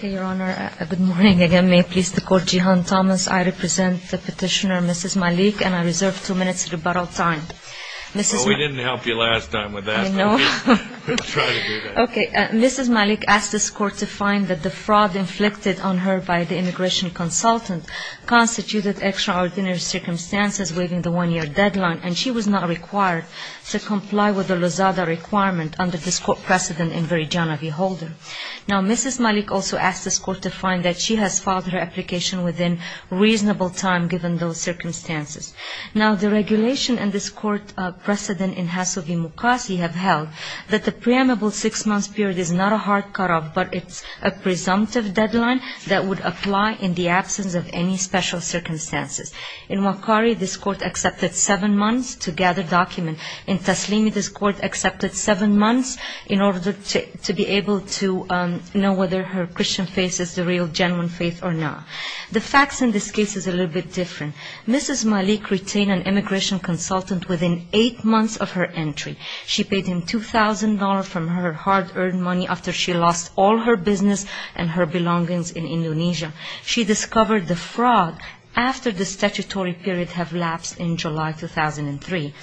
Good morning again. May it please the Court, Jehan Thomas. I represent the petitioner, Mrs. Malik, and I reserve two minutes of rebuttal time. Well, we didn't help you last time with that, but we'll try to do that. Okay. Mrs. Malik asked this Court to find that the fraud inflicted on her by the immigration consultant constituted extraordinary circumstances waiving the one-year deadline, and she was not required to comply with the Lozada requirement under this Court precedent in very John F. Holder. Now, Mrs. Malik also asked this Court to find that she has filed her application within reasonable time given those circumstances. Now, the regulation in this Court precedent in Hasso v. Mukassi have held that the preemable six-month period is not a hard cutoff, but it's a presumptive deadline that would apply in the absence of any special circumstances. In Wakari, this Court accepted seven months to gather document. In Taslimi, this Court accepted seven months in order to be able to know whether her Christian faith is the real genuine faith or not. The facts in this case is a little bit different. Mrs. Malik retained an immigration consultant within eight months of her entry. She paid him $2,000 from her hard-earned money after she lost all her business and her belongings in Indonesia. She discovered the fraud after the statutory period had lapsed in July 2003.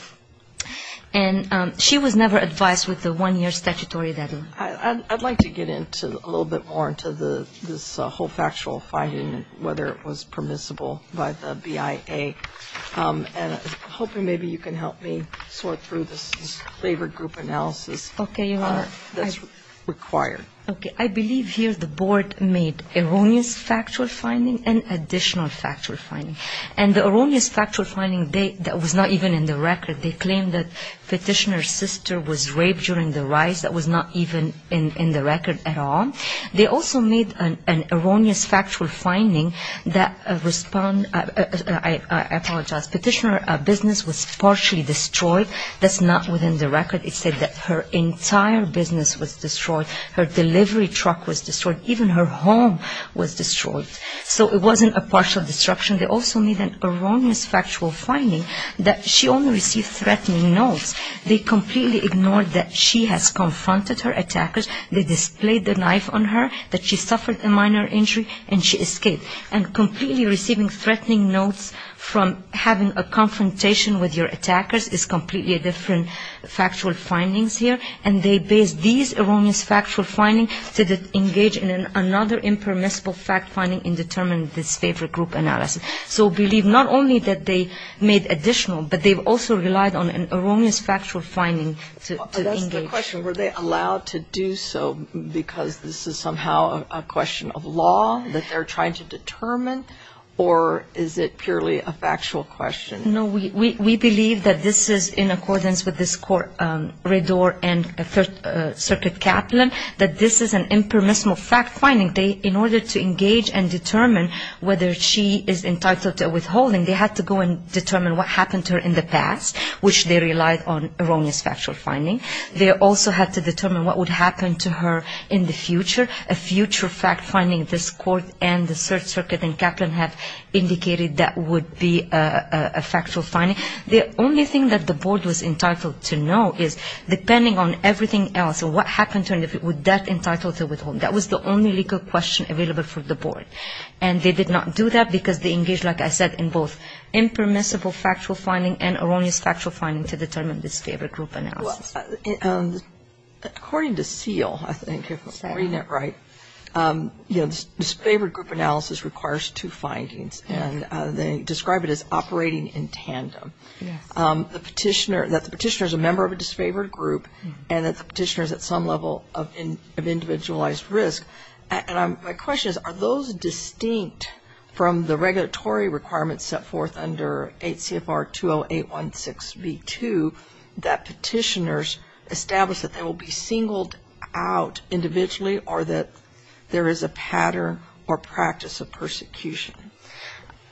And she was never advised with the one-year statutory deadline. I'd like to get into a little bit more into this whole factual finding, whether it was permissible by the BIA, and hoping maybe you can help me sort through this labor group analysis that's required. Okay. I believe here the board made erroneous factual finding and additional factual finding. And the erroneous factual finding, that was not even in the record. They claimed that petitioner's sister was raped during the rise. That was not even in the record at all. They also made an erroneous factual finding that respond to the petitioner's business was partially destroyed. That's not within the record. It said that her entire business was destroyed. Her delivery truck was destroyed. Even her home was destroyed. So it wasn't a partial destruction. They also made an erroneous factual finding that she only received threatening notes. They completely ignored that she has confronted her attackers. They displayed the knife on her, that she suffered a minor injury, and she escaped. And completely receiving threatening notes from having a confrontation with your attackers is completely different factual findings here. And they based these erroneous factual findings to engage in another impermissible fact finding in determining this labor group analysis. So I believe not only that they made additional, but they also relied on an erroneous factual finding to engage. I have a question. Were they allowed to do so because this is somehow a question of law that they're trying to determine? Or is it purely a factual question? No. We believe that this is in accordance with this court, Redor and Third Circuit Kaplan, that this is an impermissible fact finding. In order to engage and determine whether she is entitled to a withholding, they had to go and determine what happened to her in the past, which they relied on erroneous factual finding. They also had to determine what would happen to her in the future, a future fact finding this court and the Third Circuit and Kaplan have indicated that would be a factual finding. The only thing that the board was entitled to know is, depending on everything else, what happened to her, would that entitle her to withhold? That was the only legal question available for the board. And they did not do that because they engaged, like I said, in both impermissible factual finding and erroneous factual finding to determine this labor group analysis. So according to Seal, I think, if I'm reading it right, you know, disfavored group analysis requires two findings. And they describe it as operating in tandem. Yes. The petitioner, that the petitioner is a member of a disfavored group and that the petitioner is at some level of individualized risk. And my question is, are those distinct from the regulatory requirements set forth under 8 CFR 20816B2 that petitioners establish that they will be singled out individually or that there is a pattern or practice of persecution?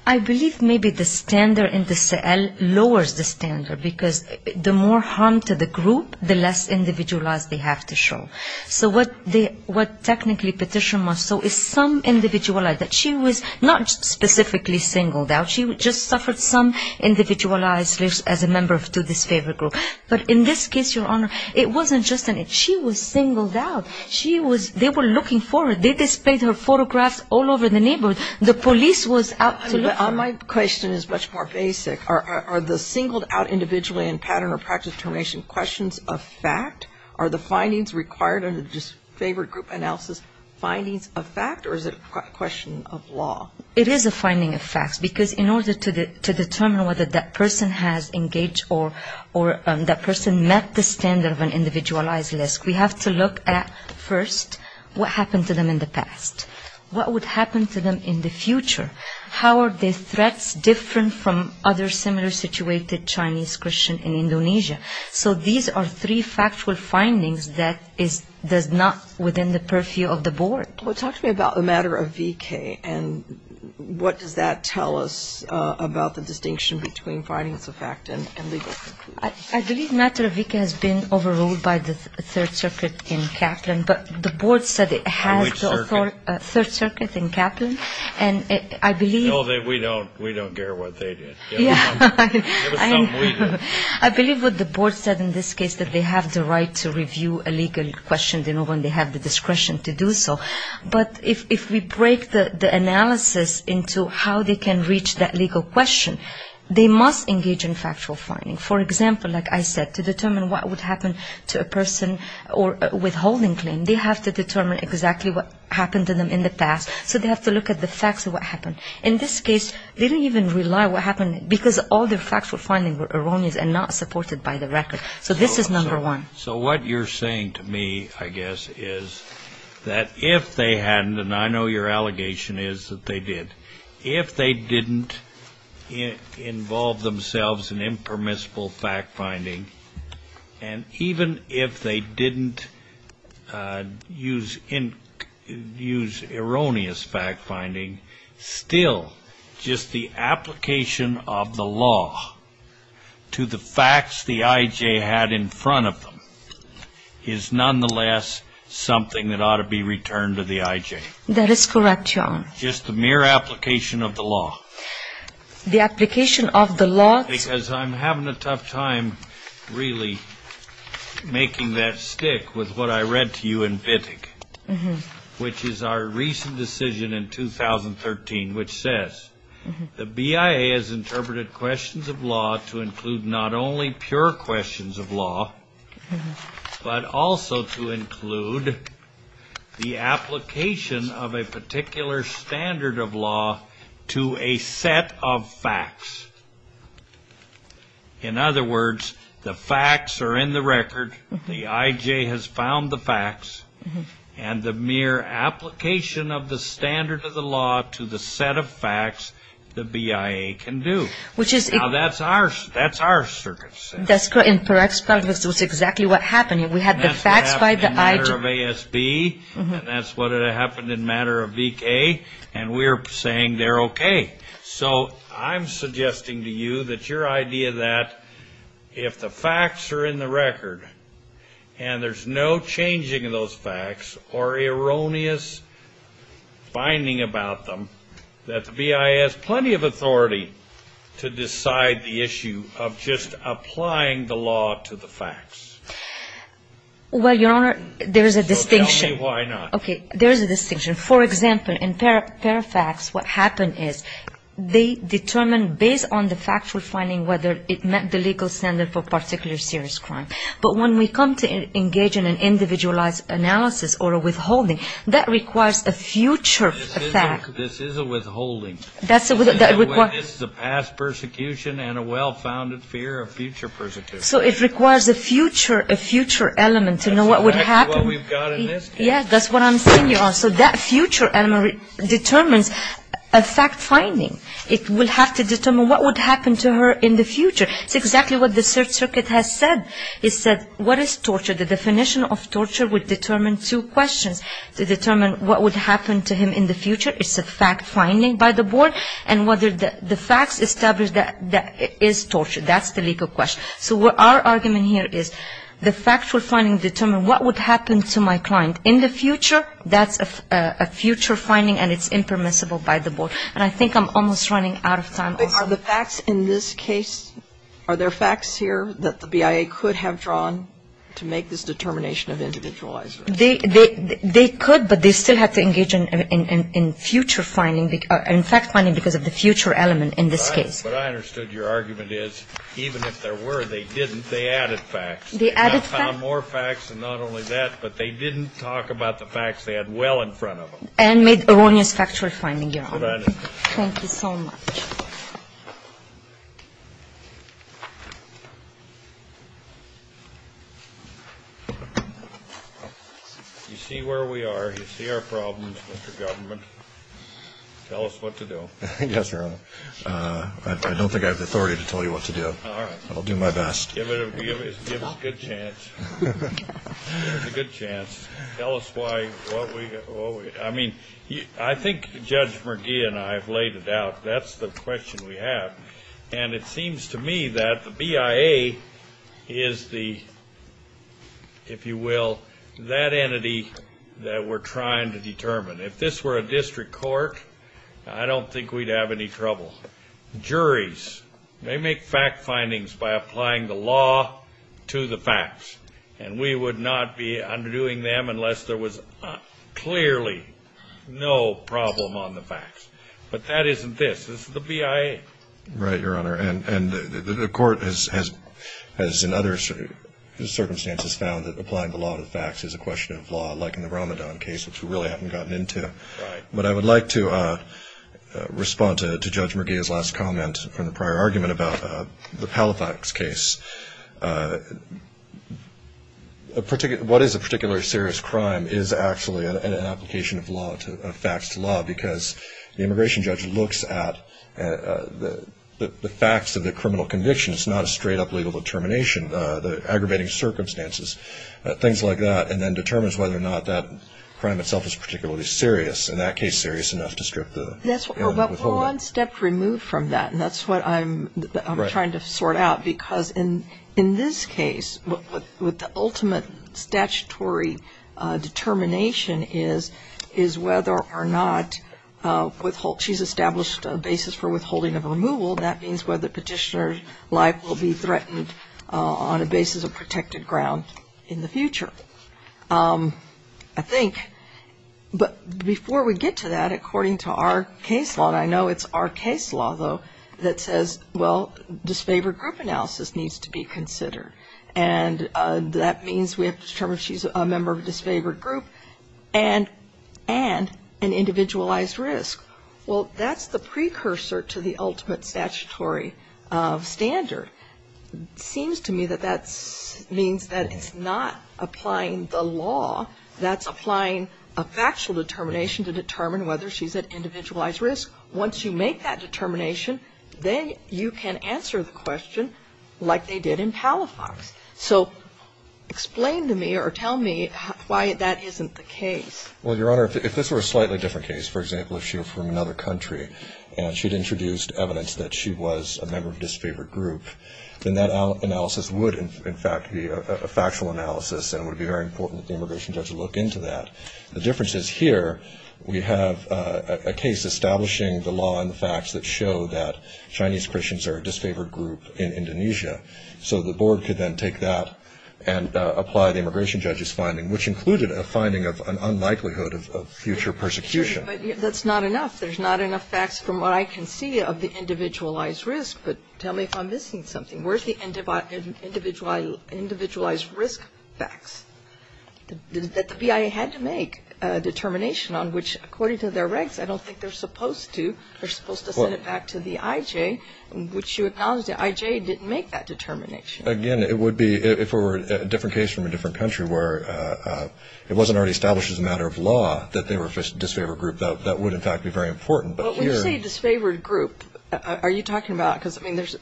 I believe maybe the standard in the Seal lowers the standard because the more harm to the group, the less individualized they have to show. So what technically petitioner must show is some individualized, that she was not specifically singled out, she just suffered some individualized risk as a member of a disfavored group. But in this case, Your Honor, it wasn't just that. She was singled out. She was they were looking for her. They displayed her photographs all over the neighborhood. The police was out to look for her. My question is much more basic. Are the singled out individually and pattern or practice of termination questions of fact? Are the findings required under disfavored group analysis findings of fact or is it a question of law? It is a finding of fact because in order to determine whether that person has engaged or that person met the standard of an individualized risk, we have to look at first what happened to them in the past. What would happen to them in the future? How are their threats different from other similar situated Chinese Christian in Indonesia? So these are three factual findings that is not within the purview of the board. Well, talk to me about the matter of V.K. and what does that tell us about the distinction between findings of fact and legal? I believe matter of V.K. has been overruled by the Third Circuit in Kaplan, but the board said it has the authority. Which circuit? Third Circuit in Kaplan. And I believe. No, we don't care what they did. Yeah. It was something we did. I believe what the board said in this case that they have the right to review a legal question. They know when they have the discretion to do so. But if we break the analysis into how they can reach that legal question, they must engage in factual finding. For example, like I said, to determine what would happen to a person or withholding claim, they have to determine exactly what happened to them in the past. So they have to look at the facts of what happened. In this case, they didn't even rely on what happened because all their factual findings were erroneous and not supported by the record. So this is number one. So what you're saying to me, I guess, is that if they hadn't, and I know your allegation is that they did, if they didn't involve themselves in impermissible fact-finding, and even if they didn't use erroneous fact-finding, still just the application of the law to the facts the I.J. had in front of them is nonetheless something that ought to be returned to the I.J.? That is correct, Your Honor. Just the mere application of the law? The application of the law. Because I'm having a tough time really making that stick with what I read to you in Vidig, which is our recent decision in 2013, which says, the BIA has interpreted questions of law to include not only pure questions of law, but also to include the application of a particular standard of law to a set of facts. In other words, the facts are in the record. The I.J. has found the facts, and the mere application of the standard of the law to the set of facts, the BIA can do. Now that's our circumstance. That's correct. That's exactly what happened. We had the facts by the I.J. That's what happened in matter of ASB, and that's what happened in matter of V.K., and we're saying they're okay. Okay. So I'm suggesting to you that your idea that if the facts are in the record, and there's no changing of those facts or erroneous finding about them, that the BIA has plenty of authority to decide the issue of just applying the law to the facts. Well, Your Honor, there is a distinction. So tell me why not. Okay. There is a distinction. For example, in Fairfax, what happened is they determined based on the factual finding whether it met the legal standard for particular serious crime. But when we come to engage in an individualized analysis or a withholding, that requires a future fact. This is a withholding. That's a withholding. This is a past persecution and a well-founded fear of future persecution. So it requires a future element to know what would happen. That's exactly what we've got in this case. Yeah, that's what I'm saying, Your Honor. So that future element determines a fact-finding. It will have to determine what would happen to her in the future. It's exactly what the circuit has said. It said, what is torture? The definition of torture would determine two questions. To determine what would happen to him in the future, it's a fact-finding by the board, and whether the facts establish that it is torture. That's the legal question. So our argument here is the factual finding determines what would happen to my client. In the future, that's a future finding, and it's impermissible by the board. And I think I'm almost running out of time. Are the facts in this case, are there facts here that the BIA could have drawn to make this determination of individualization? They could, but they still have to engage in future finding, in fact finding because of the future element in this case. But I understood your argument is even if there were, they didn't, they added facts. They added facts. And they didn't, they didn't draw more facts than not only that, but they didn't talk about the facts they had well in front of them. And made erroneous factual finding, Your Honor. Thank you so much. You see where we are. You see our problems, Mr. Government. Tell us what to do. Yes, Your Honor. I don't think I have the authority to tell you what to do. All right. I'll do my best. Give us a good chance. Give us a good chance. Tell us why, what we, I mean, I think Judge McGee and I have laid it out. That's the question we have. And it seems to me that the BIA is the, if you will, that entity that we're trying to determine. If this were a district court, I don't think we'd have any trouble. Juries, they make fact findings by applying the law to the facts. And we would not be undoing them unless there was clearly no problem on the facts. But that isn't this. This is the BIA. Right, Your Honor. And the court has in other circumstances found that applying the law to the facts is a question of law, like in the Ramadan case, which we really haven't gotten into. Right. But I would like to respond to Judge McGee's last comment from the prior argument about the Palifax case. What is a particularly serious crime is actually an application of facts to law because the immigration judge looks at the facts of the criminal conviction. It's not a straight-up legal determination, the aggravating circumstances, things like that, and then determines whether or not that crime itself is particularly serious. In that case, serious enough to strip the element of withholding. But one step removed from that, and that's what I'm trying to sort out. Right. Because in this case, what the ultimate statutory determination is, is whether or not she's established a basis for withholding of removal. That means whether petitioner's life will be threatened on a basis of protected ground in the future, I think. But before we get to that, according to our case law, and I know it's our case law, though, that says, well, disfavored group analysis needs to be considered. And that means we have to determine if she's a member of a disfavored group and an individualized risk. Well, that's the precursor to the ultimate statutory standard. It seems to me that that means that it's not applying the law. That's applying a factual determination to determine whether she's at individualized risk. Once you make that determination, then you can answer the question like they did in Palafox. So explain to me or tell me why that isn't the case. Well, Your Honor, if this were a slightly different case, for example, if she were from another country and she'd introduced evidence that she was a member of a disfavored group, then that analysis would, in fact, be a factual analysis and it would be very important that the immigration judge look into that. The difference is here we have a case establishing the law and the facts that show that Chinese Christians are a disfavored group in Indonesia. So the board could then take that and apply the immigration judge's finding, which included a finding of an unlikelihood of future persecution. But that's not enough. There's not enough facts from what I can see of the individualized risk. But tell me if I'm missing something. Where's the individualized risk facts that the BIA had to make a determination on, which according to their regs I don't think they're supposed to. They're supposed to send it back to the IJ, which you acknowledge the IJ didn't make that determination. Again, it would be if it were a different case from a different country where it wasn't already established as a matter of law that they were a disfavored group. That would, in fact, be very important. When you say disfavored group, are you talking about the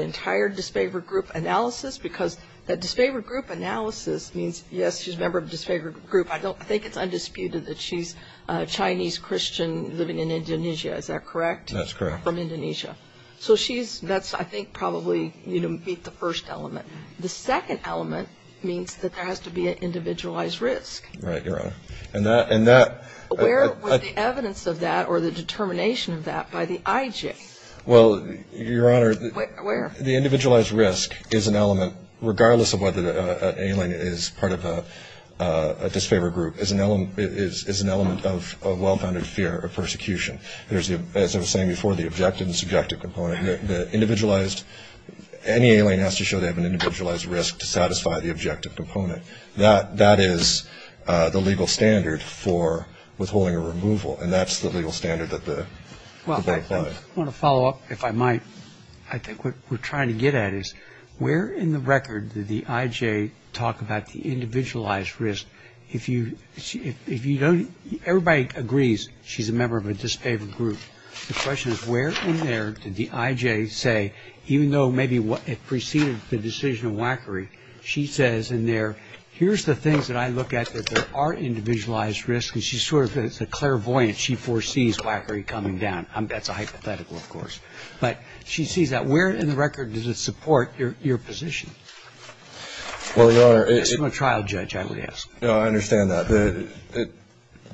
entire disfavored group analysis? Because that disfavored group analysis means, yes, she's a member of a disfavored group. I think it's undisputed that she's a Chinese Christian living in Indonesia. Is that correct? That's correct. From Indonesia. So she's, I think, probably beat the first element. The second element means that there has to be an individualized risk. Right, Your Honor. And that. Where was the evidence of that or the determination of that by the IJ? Well, Your Honor. Where? The individualized risk is an element, regardless of whether an alien is part of a disfavored group, is an element of well-founded fear of persecution. As I was saying before, the objective and subjective component. Any alien has to show they have an individualized risk to satisfy the objective component. That is the legal standard for withholding a removal, and that's the legal standard that the court applies. Well, I want to follow up, if I might. I think what we're trying to get at is where in the record did the IJ talk about the individualized risk? If you don't, everybody agrees she's a member of a disfavored group. The question is where in there did the IJ say, even though maybe it preceded the decision of Wackery, she says in there, here's the things that I look at that there are individualized risks. And she sort of, it's a clairvoyance. She foresees Wackery coming down. That's a hypothetical, of course. But she sees that. Where in the record does it support your position? Well, Your Honor. I'm a trial judge, I would ask. No, I understand that.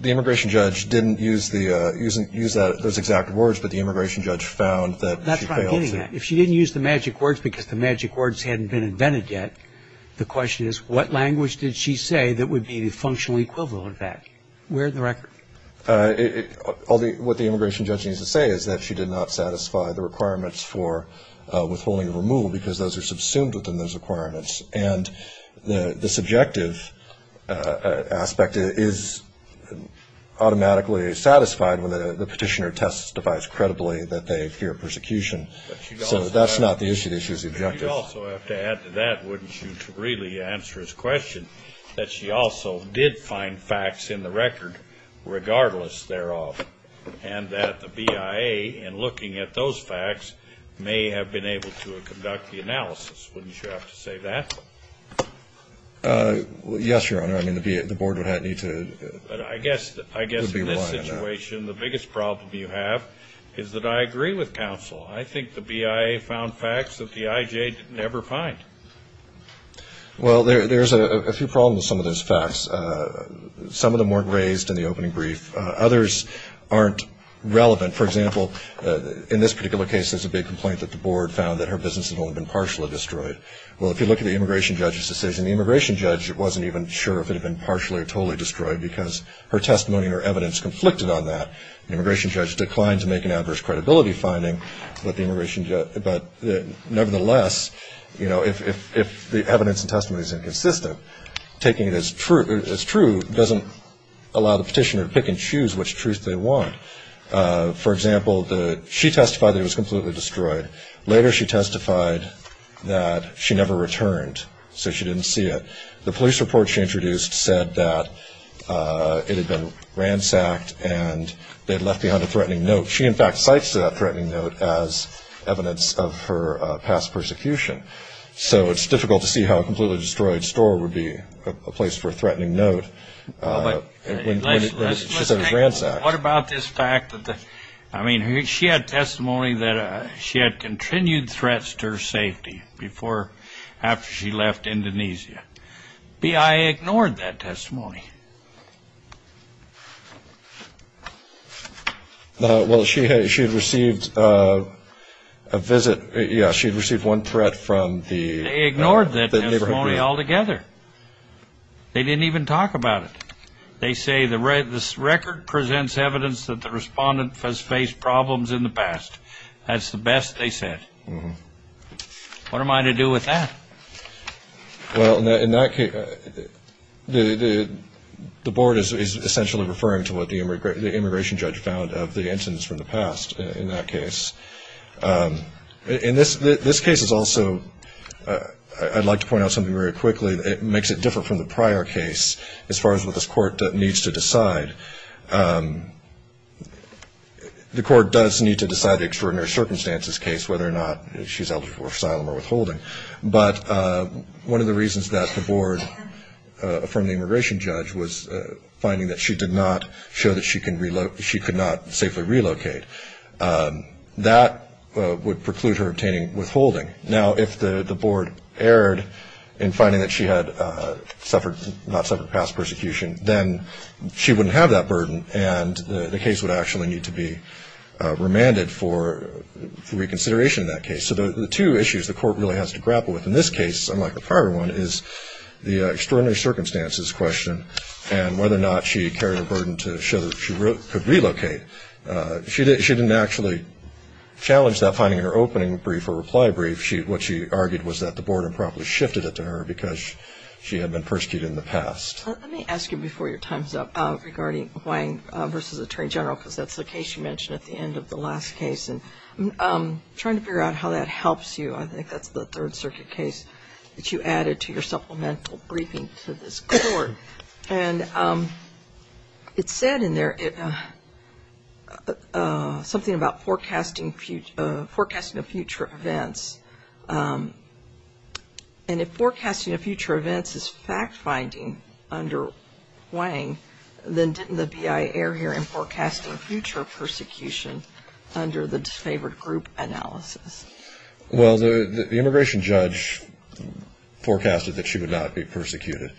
The immigration judge didn't use those exact words, but the immigration judge found that she failed to. That's what I'm getting at. If she didn't use the magic words because the magic words hadn't been invented yet, the question is what language did she say that would be the functional equivalent of that? Where in the record? What the immigration judge needs to say is that she did not satisfy the requirements for withholding a removal because those are subsumed within those requirements. And the subjective aspect is automatically satisfied when the petitioner testifies credibly that they fear persecution. So that's not the issue. The issue is the objective. But you also have to add to that, wouldn't you, to really answer his question, that she also did find facts in the record regardless thereof, and that the BIA in looking at those facts may have been able to conduct the analysis. Wouldn't you have to say that? Yes, Your Honor. I mean, the Board would need to be reliant on that. But I guess in this situation, the biggest problem you have is that I agree with counsel. I think the BIA found facts that the IJ didn't ever find. Well, there's a few problems with some of those facts. Some of them weren't raised in the opening brief. Others aren't relevant. For example, in this particular case, there's a big complaint that the Board found that her business had only been partially destroyed. Well, if you look at the immigration judge's decision, the immigration judge wasn't even sure if it had been partially or totally destroyed because her testimony and her evidence conflicted on that. The immigration judge declined to make an adverse credibility finding. But nevertheless, you know, if the evidence and testimony is inconsistent, taking it as true doesn't allow the petitioner to pick and choose which truth they want. For example, she testified that it was completely destroyed. Later, she testified that she never returned, so she didn't see it. The police report she introduced said that it had been ransacked and they had left behind a threatening note. She, in fact, cites that threatening note as evidence of her past persecution. So it's difficult to see how a completely destroyed store would be a place for a threatening note. She said it was ransacked. What about this fact? I mean, she had testimony that she had continued threats to her safety after she left Indonesia. BIA ignored that testimony. Well, she had received a visit. Yeah, she had received one threat from the neighborhood bureau. They ignored that testimony altogether. They didn't even talk about it. They say the record presents evidence that the respondent has faced problems in the past. That's the best they said. What am I to do with that? Well, in that case, the board is essentially referring to what the immigration judge found of the incidents from the past, in that case. In this case, also, I'd like to point out something very quickly. It makes it different from the prior case as far as what this court needs to decide. The court does need to decide the extraordinary circumstances case, whether or not she's eligible for asylum or withholding. But one of the reasons that the board, from the immigration judge, was finding that she did not show that she could not safely relocate. That would preclude her obtaining withholding. Now, if the board erred in finding that she had not suffered past persecution, then she wouldn't have that burden and the case would actually need to be remanded for reconsideration in that case. So the two issues the court really has to grapple with in this case, unlike the prior one, is the extraordinary circumstances question and whether or not she carried a burden to show that she could relocate. She didn't actually challenge that finding in her opening brief or reply brief. What she argued was that the board improperly shifted it to her because she had been persecuted in the past. Let me ask you before your time is up regarding Hwang v. Attorney General, because that's the case you mentioned at the end of the last case. And I'm trying to figure out how that helps you. I think that's the Third Circuit case that you added to your supplemental briefing to this court. And it said in there something about forecasting of future events. And if forecasting of future events is fact-finding under Hwang, then didn't the BIA err here in forecasting future persecution under the disfavored group analysis? Well, the immigration judge forecasted that she would not be persecuted.